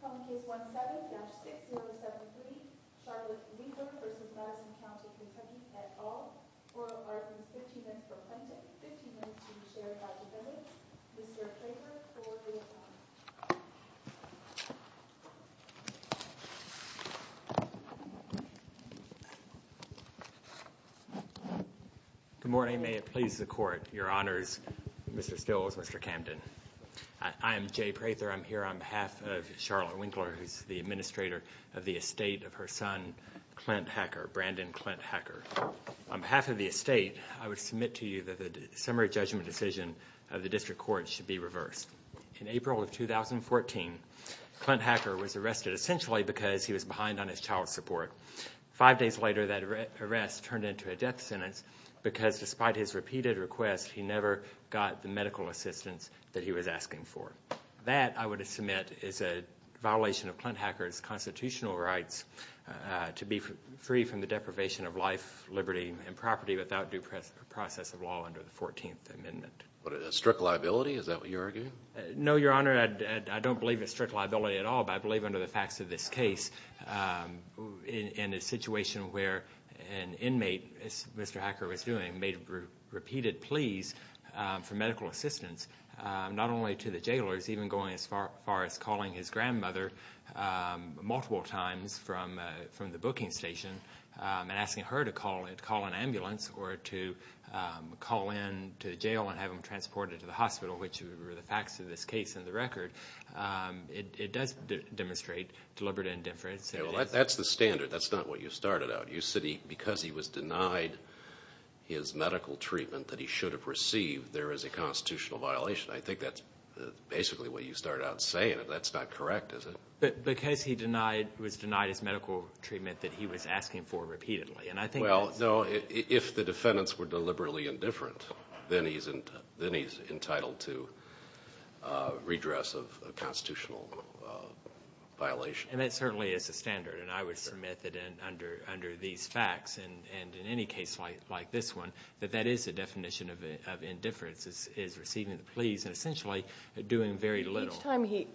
Calling Case 17-6073 Charlotte Winkler v. Madison County Kentucky, et al. Oral arguments 15 minutes for presenting, 15 minutes to share about the evidence. Mr. Kramer for the admonition. On behalf of Charlotte Winkler, who's the administrator of the estate of her son, Clint Hacker, Brandon Clint Hacker, on behalf of the estate, I would submit to you that the summary judgment decision of the district court should be reversed. In April of 2014, Clint Hacker was arrested essentially because he was behind on his child support. Five days later, that arrest turned into a death sentence because despite his repeated requests, he never got the medical assistance that he was asking for. That, I would submit, is a violation of Clint Hacker's constitutional rights to be free from the deprivation of life, liberty, and property without due process of law under the 14th Amendment. But a strict liability? Is that what you're arguing? No, Your Honor. I don't believe it's strict liability at all, but I believe under the facts of this case, in a situation where an inmate, as Mr. Hacker was doing, made repeated pleas for medical assistance, not only to the jailer, but even going as far as calling his grandmother multiple times from the booking station and asking her to call an ambulance or to call in to the jail and have him released. Or have him transported to the hospital, which were the facts of this case in the record. It does demonstrate deliberate indifference. That's the standard. That's not what you started out. You said because he was denied his medical treatment that he should have received, there is a constitutional violation. I think that's basically what you started out saying. That's not correct, is it? Because he was denied his medical treatment that he was asking for repeatedly. Well, no, if the defendants were deliberately indifferent, then he's entitled to redress of a constitutional violation. And that certainly is the standard, and I would submit that under these facts, and in any case like this one, that that is the definition of indifference, is receiving the pleas and essentially doing very little. Each time he,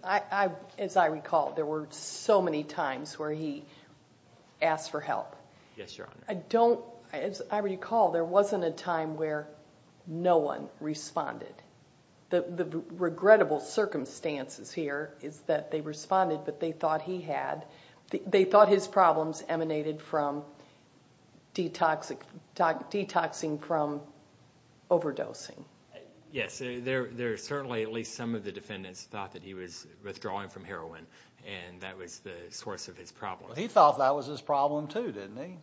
as I recall, there were so many times where he asked for help. Yes, Your Honor. I don't, as I recall, there wasn't a time where no one responded. The regrettable circumstances here is that they responded, but they thought he had, they thought his problems emanated from detoxing, detoxing from overdosing. Yes, there are certainly at least some of the defendants thought that he was withdrawing from heroin and that was the source of his problem. He thought that was his problem, too, didn't he?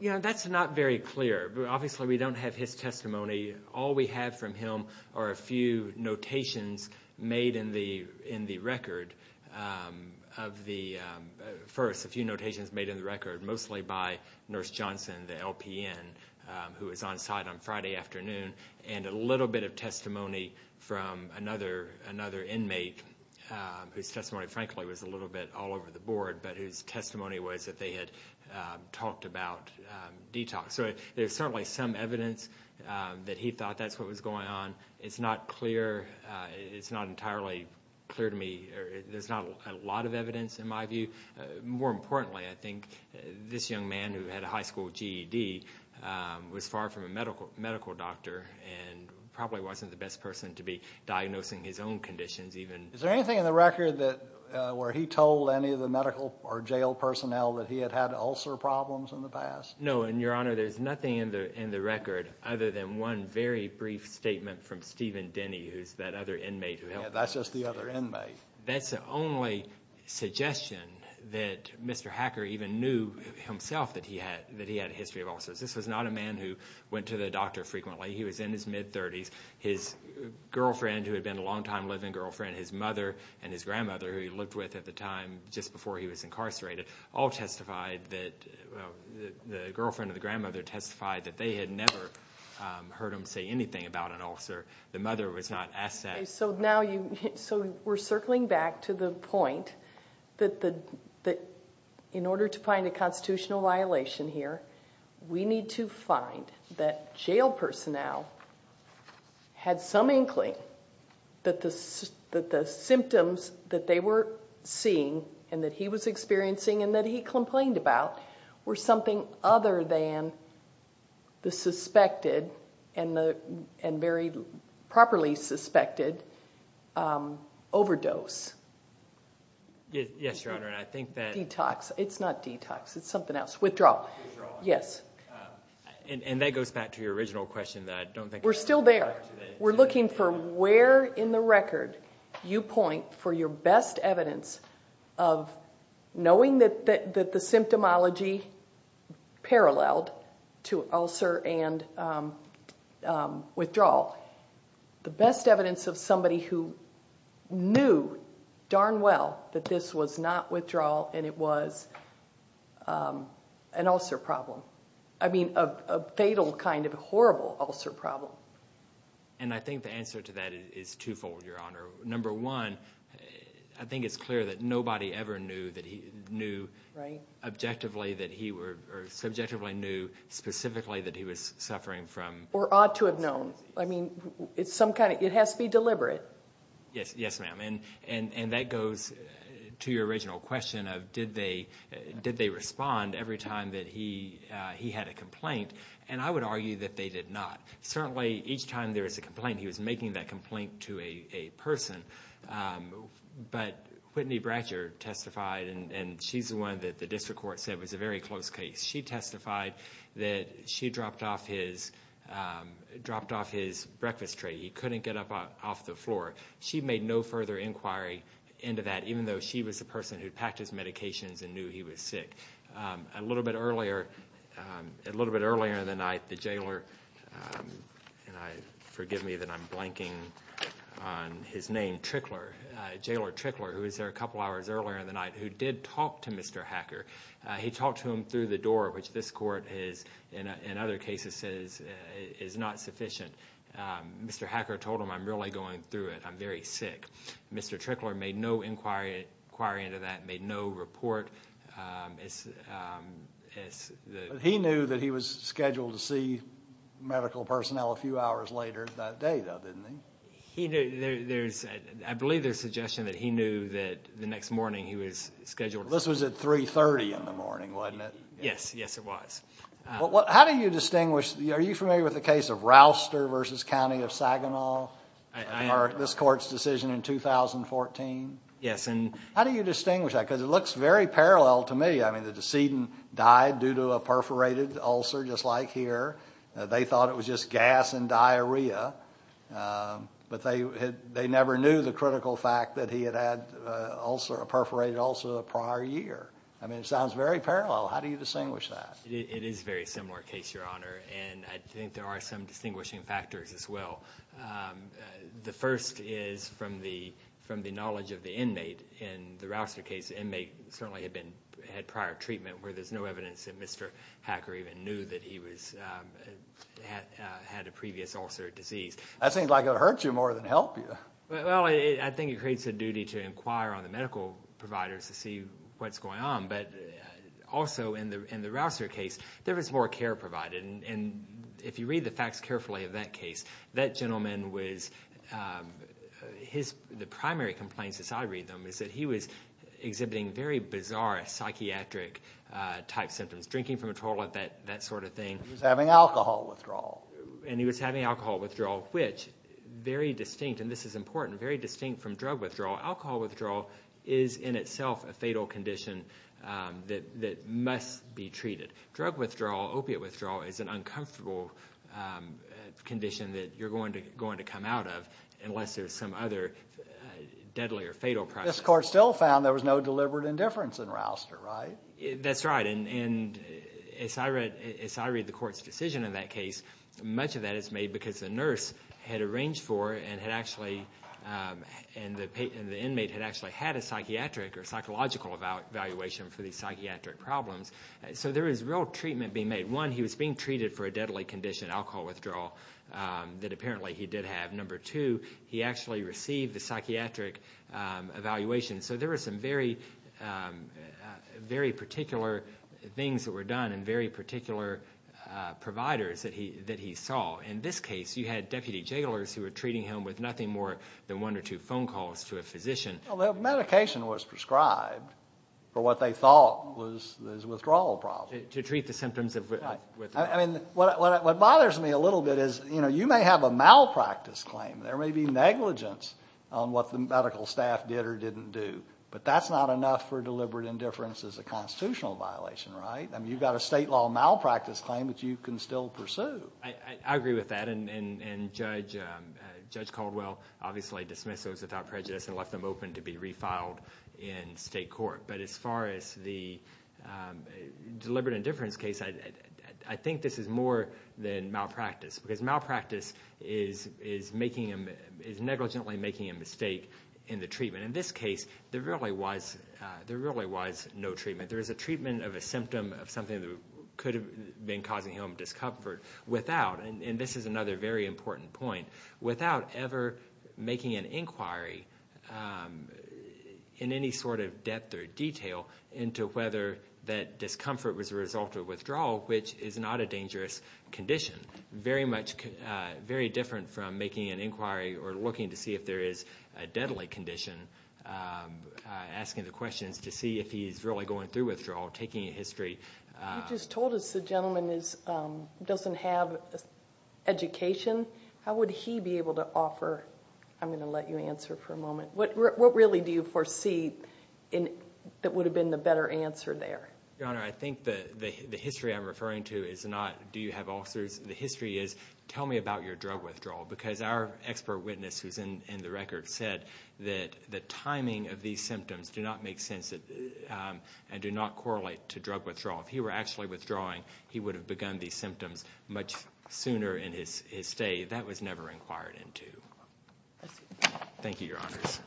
You know, that's not very clear. Obviously, we don't have his testimony. All we have from him are a few notations made in the record of the, first, a few notations made in the record, mostly by Nurse Johnson, the LPN, who was on site on Friday afternoon, and a little bit of testimony from another inmate whose testimony frankly was a little bit all over the board, but whose testimony was that they had talked about detox. So there's certainly some evidence that he thought that's what was going on. It's not clear, it's not entirely clear to me, there's not a lot of evidence in my view. More importantly, I think this young man who had a high school GED was far from a medical doctor and probably wasn't the best person to be diagnosing his own conditions even. Is there anything in the record that, where he told any of the medical or jail personnel that he had had ulcer problems in the past? No, and Your Honor, there's nothing in the record other than one very brief statement from Stephen Denny, who's that other inmate who helped him. Yeah, that's just the other inmate. That's the only suggestion that Mr. Hacker even knew himself that he had a history of ulcers. This was not a man who went to the doctor frequently. He was in his mid-30s. His girlfriend, who had been a long-time living girlfriend, his mother and his grandmother, who he lived with at the time just before he was incarcerated, all testified that, the girlfriend of the grandmother testified that they had never heard him say anything about an ulcer. The mother was not asked that. Okay, so now we're circling back to the point that in order to find a constitutional violation here, we need to find that jail personnel had some inkling that the symptoms that they were seeing and that he was experiencing and that he complained about were something other than the suspected and very properly suspected overdose. Yes, Your Honor, I think that... Detox. It's not detox. It's something else. Withdrawal. Yes. And that goes back to your original question that I don't think... We're still there. We're looking for where in the record you point for your best evidence of knowing that the symptomology paralleled to ulcer and withdrawal. The best evidence of somebody who knew darn well that this was not withdrawal and it was an ulcer problem. I mean, a fatal kind of horrible ulcer problem. And I think the answer to that is twofold, Your Honor. Number one, I think it's clear that nobody ever knew that he knew subjectively knew specifically that he was suffering from... Or ought to have known. I mean, it has to be deliberate. Yes, ma'am. And that goes to your original question of did they respond every time that he had a complaint? And I would argue that they did not. Certainly, each time there was a complaint, he was making that complaint to a person. But Whitney Bratcher testified, and she's the one that the district court said was a very close case. She testified that she dropped off his breakfast tray. He couldn't get up off the floor. She made no further inquiry into that, even though she was the person who packed his medications and knew he was sick. A little bit earlier in the night, the jailer, and forgive me that I'm blanking on his name, Trickler, Jailer Trickler, who was there a couple hours earlier in the night, who did talk to Mr. Hacker. He talked to him through the door, which this court has, in other cases, says is not sufficient. Mr. Hacker told him, I'm really going through it. I'm very sick. Mr. Trickler made no inquiry into that, made no report. He knew that he was scheduled to see medical personnel a few hours later that day, though, didn't he? I believe there's suggestion that he knew that the next morning he was scheduled. This was at 3.30 in the morning, wasn't it? Yes, yes, it was. How do you distinguish? Are you familiar with the case of Rouster v. County of Saginaw, this court's decision in 2014? Yes. How do you distinguish that? Because it looks very parallel to me. The decedent died due to a perforated ulcer, just like here. They thought it was just gas and diarrhea, but they never knew the critical fact that he had had a perforated ulcer the prior year. It sounds very parallel. How do you distinguish that? It is a very similar case, Your Honor, and I think there are some distinguishing factors as well. The first is from the knowledge of the inmate in the Rouster case. The inmate certainly had prior treatment where there's no evidence that Mr. Hacker even knew that he had a previous ulcer or disease. That seems like it would hurt you more than help you. Well, I think it creates a duty to inquire on the medical providers to see what's going on. But also in the Rouster case, there was more care provided. And if you read the facts carefully of that case, that gentleman was – the primary complaints, as I read them, is that he was exhibiting very bizarre psychiatric-type symptoms, drinking from a toilet, that sort of thing. He was having alcohol withdrawal. And he was having alcohol withdrawal, which very distinct – and this is important – very distinct from drug withdrawal. Alcohol withdrawal is in itself a fatal condition that must be treated. Drug withdrawal, opiate withdrawal, is an uncomfortable condition that you're going to come out of unless there's some other deadly or fatal process. This court still found there was no deliberate indifference in Rouster, right? That's right. And as I read the court's decision in that case, much of that is made because the nurse had arranged for and had actually – and the inmate had actually had a psychiatric or psychological evaluation for these psychiatric problems. So there was real treatment being made. One, he was being treated for a deadly condition, alcohol withdrawal, that apparently he did have. Number two, he actually received the psychiatric evaluation. So there were some very, very particular things that were done and very particular providers that he saw. In this case, you had deputy jailers who were treating him with nothing more than one or two phone calls to a physician. Well, the medication was prescribed for what they thought was withdrawal problems. To treat the symptoms of withdrawal. Right. I mean, what bothers me a little bit is you may have a malpractice claim. There may be negligence on what the medical staff did or didn't do. But that's not enough for deliberate indifference as a constitutional violation, right? I mean, you've got a state law malpractice claim that you can still pursue. I agree with that, and Judge Caldwell obviously dismissed those without prejudice and left them open to be refiled in state court. But as far as the deliberate indifference case, I think this is more than malpractice. Because malpractice is negligently making a mistake in the treatment. In this case, there really was no treatment. There is a treatment of a symptom of something that could have been causing him discomfort without, and this is another very important point, without ever making an inquiry in any sort of depth or detail into whether that discomfort was a result of withdrawal, which is not a dangerous condition. Very different from making an inquiry or looking to see if there is a deadly condition, asking the questions to see if he's really going through withdrawal, taking a history. You just told us the gentleman doesn't have education. How would he be able to offer – I'm going to let you answer for a moment. What really do you foresee that would have been the better answer there? Your Honor, I think the history I'm referring to is not do you have ulcers. The history is tell me about your drug withdrawal. Because our expert witness who's in the record said that the timing of these symptoms do not make sense and do not correlate to drug withdrawal. If he were actually withdrawing, he would have begun these symptoms much sooner in his stay. That was never inquired into. Thank you, Your Honors.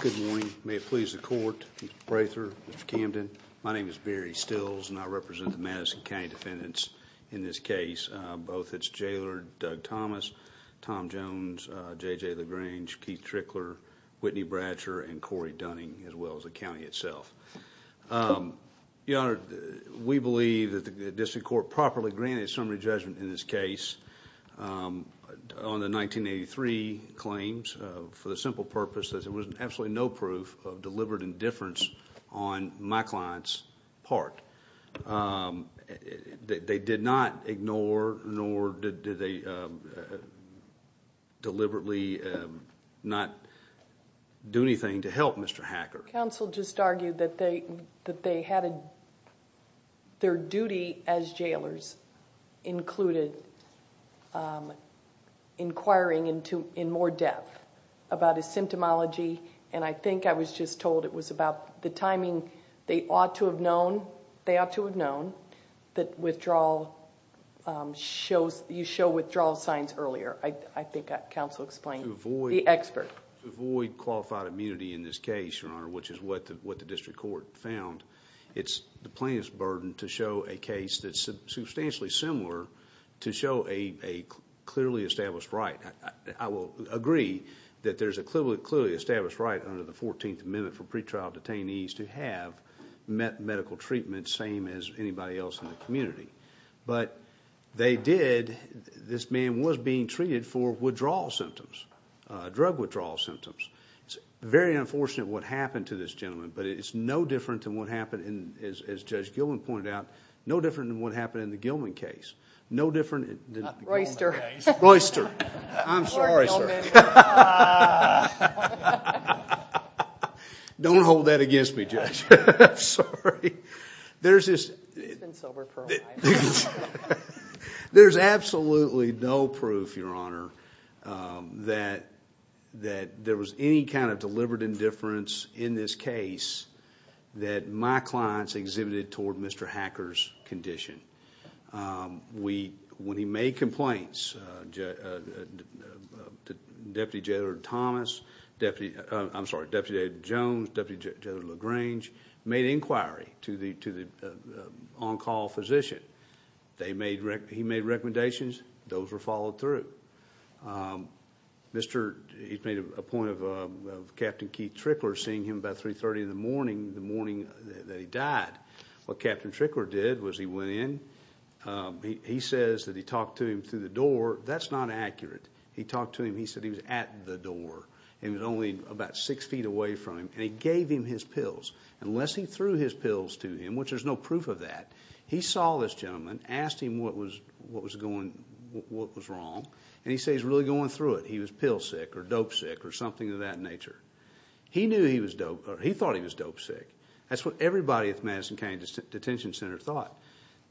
Good morning. May it please the Court, Mr. Braithwaite, Mr. Camden. My name is Barry Stills, and I represent the Madison County defendants in this case. Both its jailer, Doug Thomas, Tom Jones, J.J. LaGrange, Keith Trickler, Whitney Bratcher, and Corey Dunning, as well as the county itself. Your Honor, we believe that the district court properly granted a summary judgment in this case. On the 1983 claims, for the simple purpose that there was absolutely no proof of deliberate indifference on my client's part. They did not ignore nor did they deliberately not do anything to help Mr. Hacker. Counsel just argued that they had their duty as jailers included inquiring in more depth about his symptomology. I think I was just told it was about the timing. They ought to have known that withdrawal... you show withdrawal signs earlier. I think that counsel explained the expert. To avoid qualified immunity in this case, Your Honor, which is what the district court found, it's the plaintiff's burden to show a case that's substantially similar to show a clearly established right. I will agree that there's a clearly established right under the 14th Amendment for pretrial detainees to have medical treatment same as anybody else in the community. But they did... this man was being treated for withdrawal symptoms, drug withdrawal symptoms. It's very unfortunate what happened to this gentleman, but it's no different than what happened, as Judge Gilman pointed out, no different than what happened in the Gilman case. No different than... Not the Gilman case. Royster. Royster. I'm sorry, sir. Don't hold that against me, Judge. I'm sorry. There's this... He's been sober for a while. There's absolutely no proof, Your Honor, that there was any kind of deliberate indifference in this case that my clients exhibited toward Mr. Hacker's condition. When he made complaints, Deputy Jailor Thomas... I'm sorry, Deputy Jailor Jones, Deputy Jailor LaGrange made inquiry to the on-call physician. He made recommendations. Those were followed through. He made a point of Captain Keith Trickler seeing him about 3.30 in the morning, the morning that he died. What Captain Trickler did was he went in. He says that he talked to him through the door. That's not accurate. He talked to him. He said he was at the door, and he was only about 6 feet away from him, and he gave him his pills. Unless he threw his pills to him, which there's no proof of that, he saw this gentleman, asked him what was going... what was wrong, and he said he was really going through it. He was pill sick or dope sick or something of that nature. He knew he was dope... or he thought he was dope sick. That's what everybody at the Madison County Detention Center thought.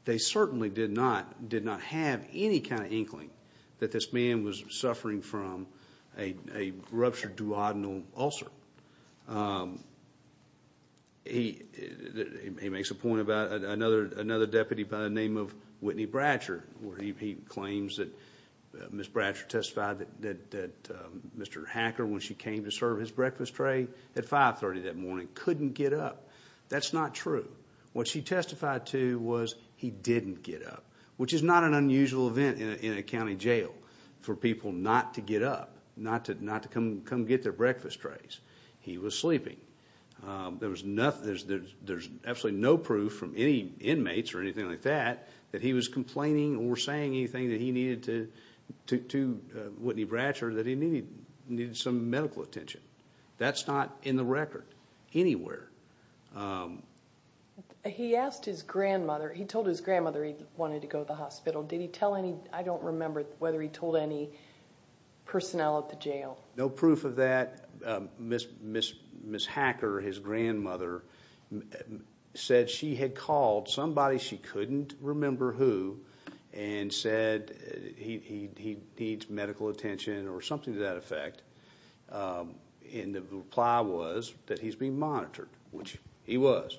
They certainly did not... did not have any kind of inkling that this man was suffering from a ruptured duodenal ulcer. He makes a point about another deputy by the name of Whitney Bratcher. He claims that Ms. Bratcher testified that Mr. Hacker, when she came to serve his breakfast tray at 5.30 that morning, couldn't get up. That's not true. What she testified to was he didn't get up, which is not an unusual event in a county jail for people not to get up, not to come get their breakfast trays. He was sleeping. There's absolutely no proof from any inmates or anything like that that he was complaining or saying anything to Whitney Bratcher that he needed some medical attention. That's not in the record anywhere. He asked his grandmother... he told his grandmother he wanted to go to the hospital. Did he tell any... I don't remember whether he told any personnel at the jail. No proof of that. Ms. Hacker, his grandmother, said she had called somebody she couldn't remember who and said he needs medical attention or something to that effect. The reply was that he's being monitored, which he was.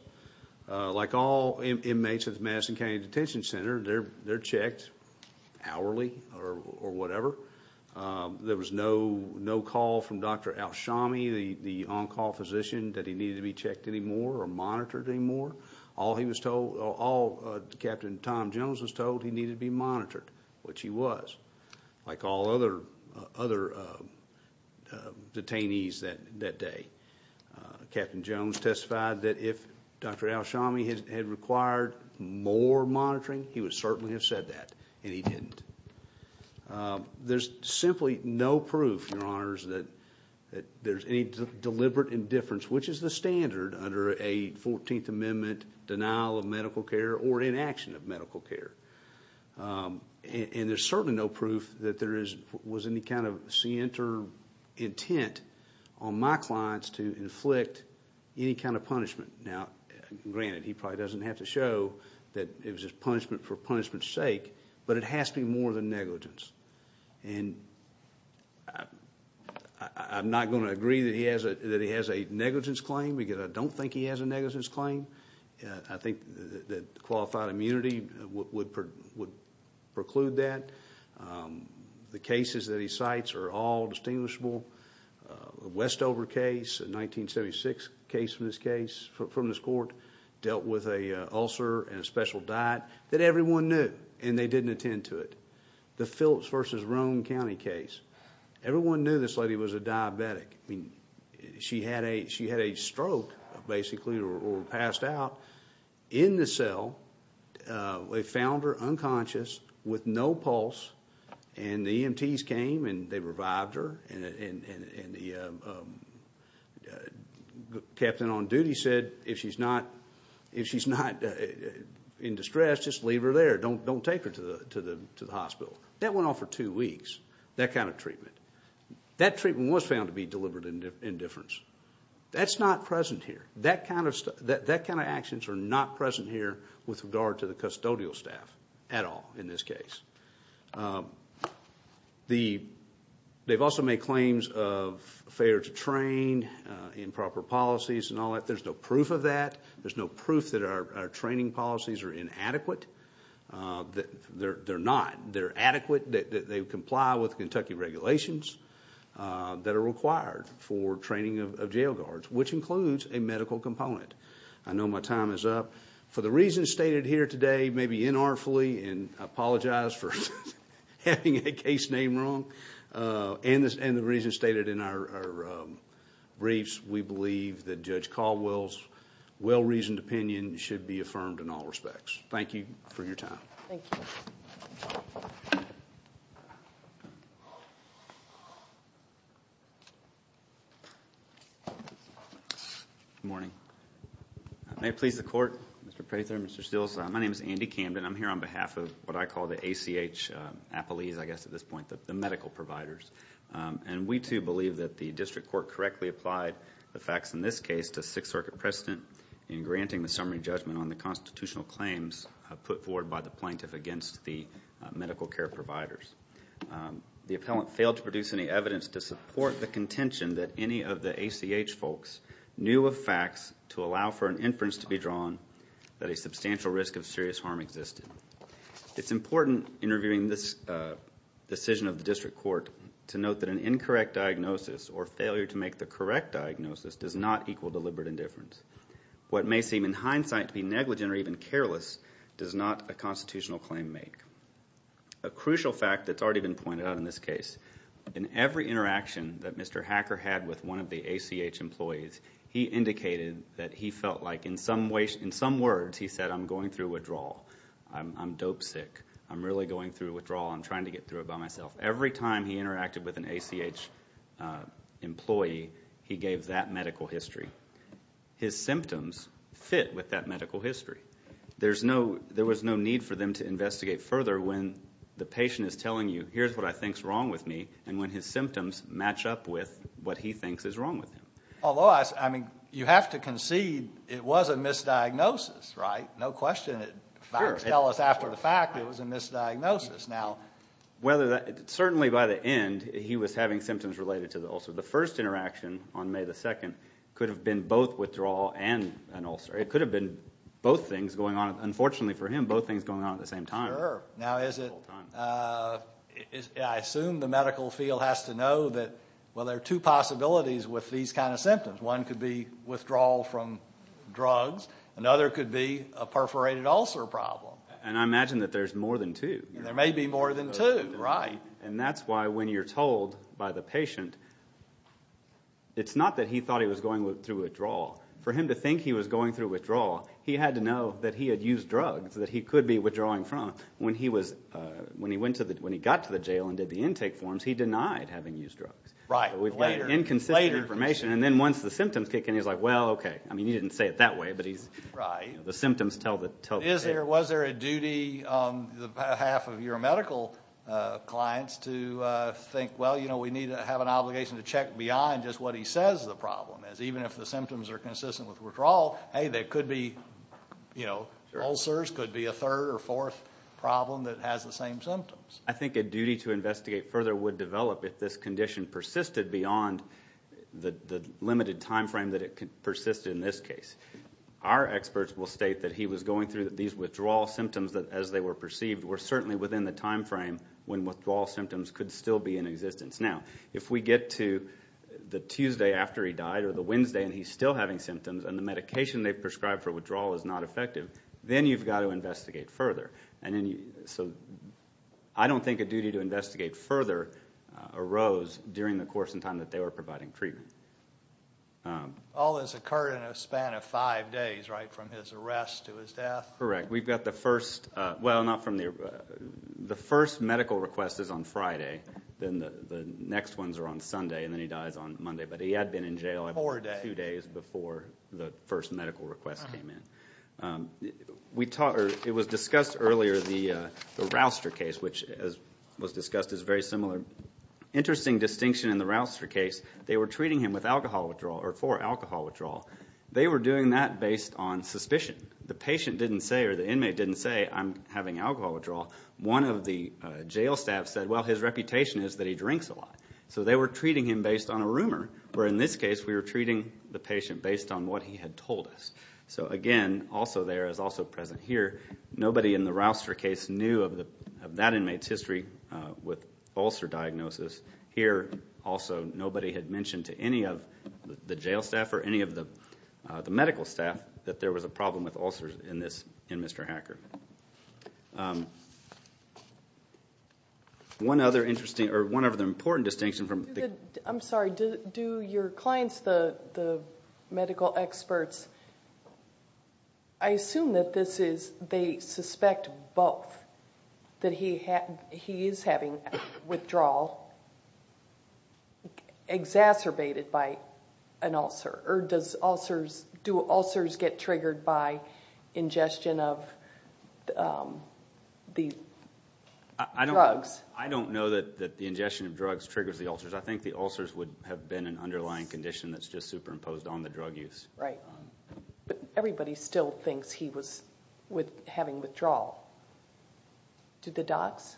Like all inmates at the Madison County Detention Center, they're checked hourly or whatever. There was no call from Dr. Alshami, the on-call physician, that he needed to be checked anymore or monitored anymore. All he was told... all Captain Tom Jones was told he needed to be monitored, which he was, like all other detainees that day. Captain Jones testified that if Dr. Alshami had required more monitoring, he would certainly have said that, and he didn't. There's simply no proof, Your Honors, that there's any deliberate indifference, which is the standard under a 14th Amendment denial of medical care or inaction of medical care. And there's certainly no proof that there was any kind of scienter intent on my clients to inflict any kind of punishment. Now, granted, he probably doesn't have to show that it was his punishment for punishment's sake, but it has to be more than negligence. And I'm not going to agree that he has a negligence claim because I don't think he has a negligence claim. I think that qualified immunity would preclude that. The cases that he cites are all distinguishable. The Westover case, a 1976 case from this court, dealt with an ulcer and a special diet that everyone knew, and they didn't attend to it. The Phillips v. Roane County case, everyone knew this lady was a diabetic. She had a stroke, basically, or passed out in the cell. They found her unconscious with no pulse, and the EMTs came and they revived her. And the captain on duty said, if she's not in distress, just leave her there. Don't take her to the hospital. That went on for two weeks, that kind of treatment. That treatment was found to be deliberate indifference. That's not present here. That kind of actions are not present here with regard to the custodial staff at all in this case. They've also made claims of failure to train, improper policies and all that. There's no proof of that. There's no proof that our training policies are inadequate. They're not. They comply with Kentucky regulations that are required for training of jail guards, which includes a medical component. I know my time is up. For the reasons stated here today, maybe inartfully, and I apologize for having a case name wrong, and the reasons stated in our briefs, we believe that Judge Caldwell's well-reasoned opinion should be affirmed in all respects. Thank you for your time. Thank you. Good morning. May it please the Court. Mr. Prather, Mr. Steeles, my name is Andy Camden. I'm here on behalf of what I call the ACH appellees, I guess at this point, the medical providers. And we, too, believe that the district court correctly applied the facts in this case to Sixth Circuit precedent in granting the summary judgment on the constitutional claims put forward by the plaintiff against the medical care providers. The appellant failed to produce any evidence to support the contention that any of the ACH folks knew of facts to allow for an inference to be drawn that a substantial risk of serious harm existed. It's important, in reviewing this decision of the district court, to note that an incorrect diagnosis or failure to make the correct diagnosis does not equal deliberate indifference. What may seem in hindsight to be negligent or even careless does not a constitutional claim make. A crucial fact that's already been pointed out in this case, in every interaction that Mr. Hacker had with one of the ACH employees, he indicated that he felt like, in some words, he said, I'm going through withdrawal. I'm dope sick. I'm really going through withdrawal. I'm trying to get through it by myself. Every time he interacted with an ACH employee, he gave that medical history. His symptoms fit with that medical history. There was no need for them to investigate further when the patient is telling you, here's what I think is wrong with me, and when his symptoms match up with what he thinks is wrong with him. Although, I mean, you have to concede it was a misdiagnosis, right? No question that facts tell us after the fact it was a misdiagnosis. Certainly by the end, he was having symptoms related to the ulcer. The first interaction on May 2nd could have been both withdrawal and an ulcer. It could have been both things going on. Unfortunately for him, both things going on at the same time. Sure. Now, I assume the medical field has to know that, well, there are two possibilities with these kind of symptoms. One could be withdrawal from drugs. Another could be a perforated ulcer problem. And I imagine that there's more than two. There may be more than two. Right. And that's why when you're told by the patient, it's not that he thought he was going through withdrawal. For him to think he was going through withdrawal, he had to know that he had used drugs that he could be withdrawing from. When he got to the jail and did the intake forms, he denied having used drugs. Right. We've got inconsistent information. And then once the symptoms kick in, he's like, well, okay. Was there a duty on behalf of your medical clients to think, well, you know, we need to have an obligation to check beyond just what he says the problem is? Even if the symptoms are consistent with withdrawal, hey, there could be, you know, ulcers, could be a third or fourth problem that has the same symptoms. I think a duty to investigate further would develop if this condition persisted beyond the limited time frame that it persisted in this case. Our experts will state that he was going through these withdrawal symptoms as they were perceived were certainly within the time frame when withdrawal symptoms could still be in existence. Now, if we get to the Tuesday after he died or the Wednesday and he's still having symptoms and the medication they prescribed for withdrawal is not effective, then you've got to investigate further. So I don't think a duty to investigate further arose during the course of time that they were providing treatment. All this occurred in a span of five days, right, from his arrest to his death? Correct. We've got the first, well, not from the, the first medical request is on Friday, then the next ones are on Sunday, and then he dies on Monday. But he had been in jail two days before the first medical request came in. It was discussed earlier, the Rouster case, which was discussed as very similar. Interesting distinction in the Rouster case, they were treating him with alcohol withdrawal or for alcohol withdrawal. They were doing that based on suspicion. The patient didn't say or the inmate didn't say, I'm having alcohol withdrawal. One of the jail staff said, well, his reputation is that he drinks a lot. So they were treating him based on a rumor, where in this case we were treating the patient based on what he had told us. So, again, also there is also present here. Nobody in the Rouster case knew of that inmate's history with ulcer diagnosis. Here, also, nobody had mentioned to any of the jail staff or any of the medical staff that there was a problem with ulcers in this, in Mr. Hacker. One other interesting, or one other important distinction from the... I'm sorry. Do your clients, the medical experts, I assume that this is, they suspect both, that he is having withdrawal exacerbated by an ulcer? Or do ulcers get triggered by ingestion of the drugs? I don't know that the ingestion of drugs triggers the ulcers. I think the ulcers would have been an underlying condition that's just superimposed on the drug use. Right. But everybody still thinks he was having withdrawal. Did the docs?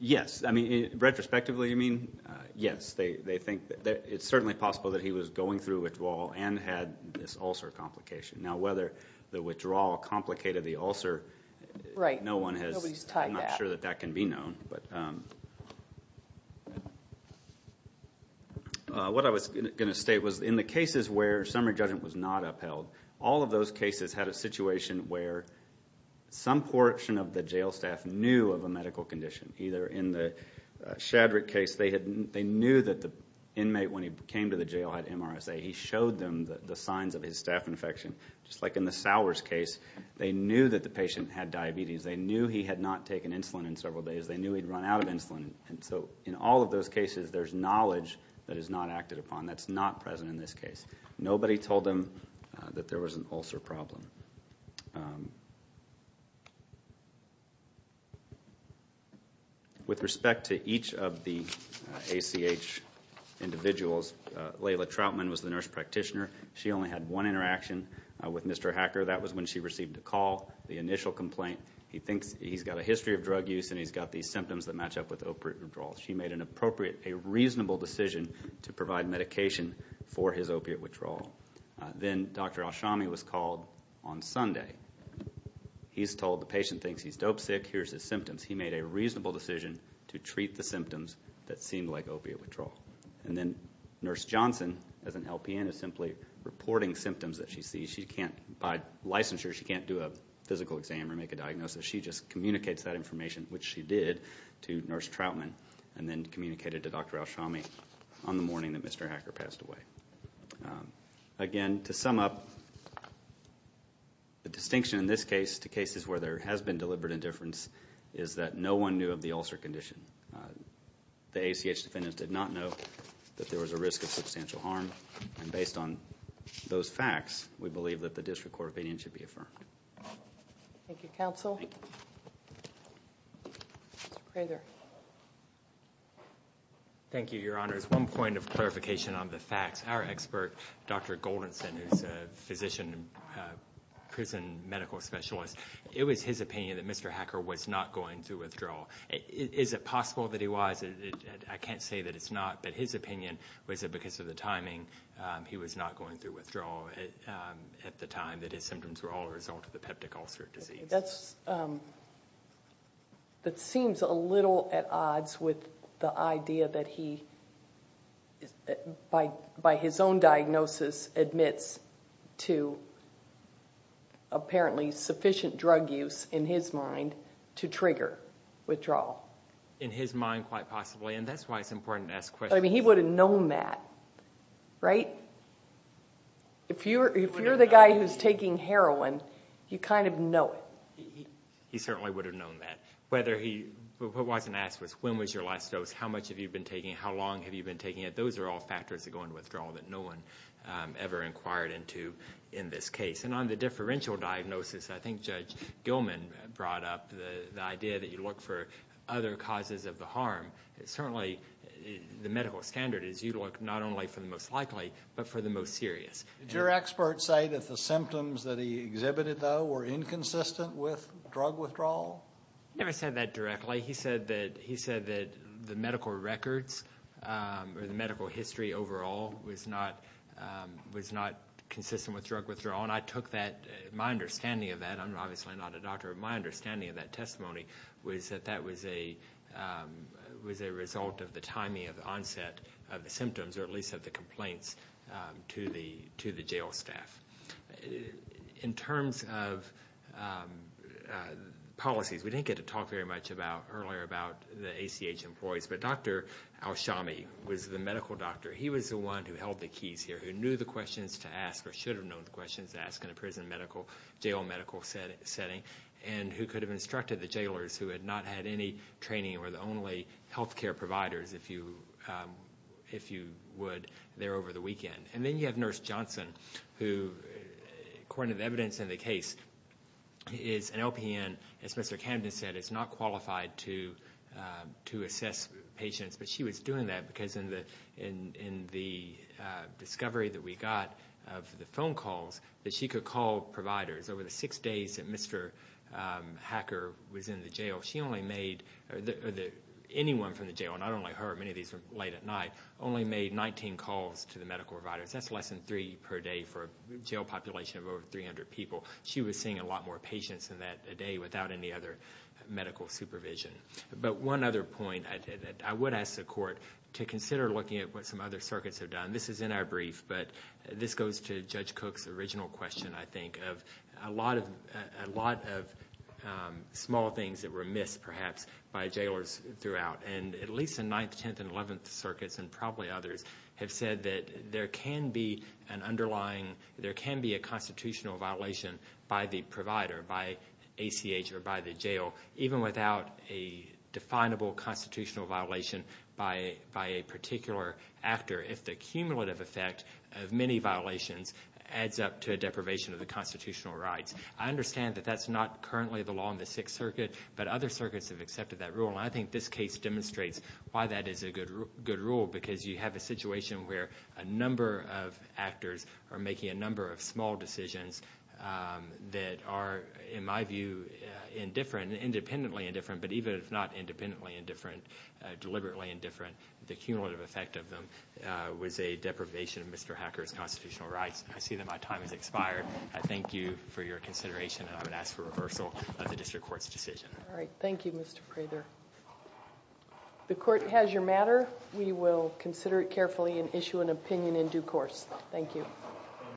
Yes. I mean, retrospectively, you mean? Yes. They think that it's certainly possible that he was going through withdrawal and had this ulcer complication. Now, whether the withdrawal complicated the ulcer, no one has... Right. Nobody's tied that. I'm not sure that that can be known. But what I was going to state was in the cases where summary judgment was not upheld, all of those cases had a situation where some portion of the jail staff knew of a medical condition. Either in the Shadrick case, they knew that the inmate, when he came to the jail, had MRSA. He showed them the signs of his staph infection. Just like in the Sowers case, they knew that the patient had diabetes. They knew he had not taken insulin in several days. They knew he'd run out of insulin. And so in all of those cases, there's knowledge that is not acted upon. That's not present in this case. Nobody told them that there was an ulcer problem. With respect to each of the ACH individuals, Layla Troutman was the nurse practitioner. She only had one interaction with Mr. Hacker. That was when she received a call, the initial complaint. He thinks he's got a history of drug use and he's got these symptoms that match up with opiate withdrawal. She made an appropriate, a reasonable decision to provide medication for his opiate withdrawal. Then Dr. Alshami was called on Sunday. He's told the patient thinks he's dope sick. Here's his symptoms. He made a reasonable decision to treat the symptoms that seemed like opiate withdrawal. And then Nurse Johnson, as an LPN, is simply reporting symptoms that she sees. By licensure, she can't do a physical exam or make a diagnosis. She just communicates that information, which she did to Nurse Troutman, and then communicated to Dr. Alshami on the morning that Mr. Hacker passed away. Again, to sum up, the distinction in this case to cases where there has been deliberate indifference is that no one knew of the ulcer condition. The ACH defendants did not know that there was a risk of substantial harm. And based on those facts, we believe that the district court opinion should be affirmed. Thank you, counsel. Mr. Prather. Thank you, Your Honor. As one point of clarification on the facts, our expert, Dr. Goldenson, who's a physician and prison medical specialist, it was his opinion that Mr. Hacker was not going through withdrawal. Is it possible that he was? I can't say that it's not. But his opinion was that because of the timing, he was not going through withdrawal at the time that his symptoms were all a result of the peptic ulcer disease. That seems a little at odds with the idea that he, by his own diagnosis, admits to apparently sufficient drug use in his mind to trigger withdrawal. In his mind, quite possibly. And that's why it's important to ask questions. He would have known that, right? If you're the guy who's taking heroin, you kind of know it. He certainly would have known that. What wasn't asked was, when was your last dose? How much have you been taking it? How long have you been taking it? Those are all factors that go into withdrawal that no one ever inquired into in this case. And on the differential diagnosis, I think Judge Gilman brought up the idea that you look for other causes of the harm. Certainly, the medical standard is you look not only for the most likely, but for the most serious. Did your expert say that the symptoms that he exhibited, though, were inconsistent with drug withdrawal? He never said that directly. He said that the medical records or the medical history overall was not consistent with drug withdrawal. And I took that, my understanding of that, and I'm obviously not a doctor, but my understanding of that testimony was that that was a result of the timing of the onset of the symptoms, or at least of the complaints, to the jail staff. In terms of policies, we didn't get to talk very much earlier about the ACH employees, but Dr. Alshami was the medical doctor. He was the one who held the keys here, who knew the questions to ask or should have known the questions to ask in a prison medical, jail medical setting, and who could have instructed the jailers who had not had any training or were the only health care providers, if you would, there over the weekend. And then you have Nurse Johnson, who, according to the evidence in the case, is an LPN. As Mr. Camden said, it's not qualified to assess patients, but she was doing that because in the discovery that we got of the phone calls that she could call providers over the six days that Mr. Hacker was in the jail, she only made, or anyone from the jail, not only her, many of these were late at night, only made 19 calls to the medical providers. That's less than three per day for a jail population of over 300 people. She was seeing a lot more patients in that day without any other medical supervision. But one other point, I would ask the court to consider looking at what some other circuits have done. This is in our brief, but this goes to Judge Cook's original question, I think, of a lot of small things that were missed, perhaps, by jailers throughout. And at least the 9th, 10th, and 11th circuits, and probably others, have said that there can be an underlying, there can be a constitutional violation by the provider, by ACH, or by the jail, even without a definable constitutional violation by a particular actor, if the cumulative effect of many violations adds up to a deprivation of the constitutional rights. I understand that that's not currently the law in the 6th Circuit, but other circuits have accepted that rule, and I think this case demonstrates why that is a good rule, because you have a situation where a number of actors are making a number of small decisions that are, in my view, indifferent, independently indifferent, but even if not independently indifferent, deliberately indifferent, the cumulative effect of them was a deprivation of Mr. Hacker's constitutional rights. I see that my time has expired. I thank you for your consideration, and I'm going to ask for reversal of the district court's decision. All right. Thank you, Mr. Prather. The court has your matter. We will consider it carefully and issue an opinion in due course. Thank you.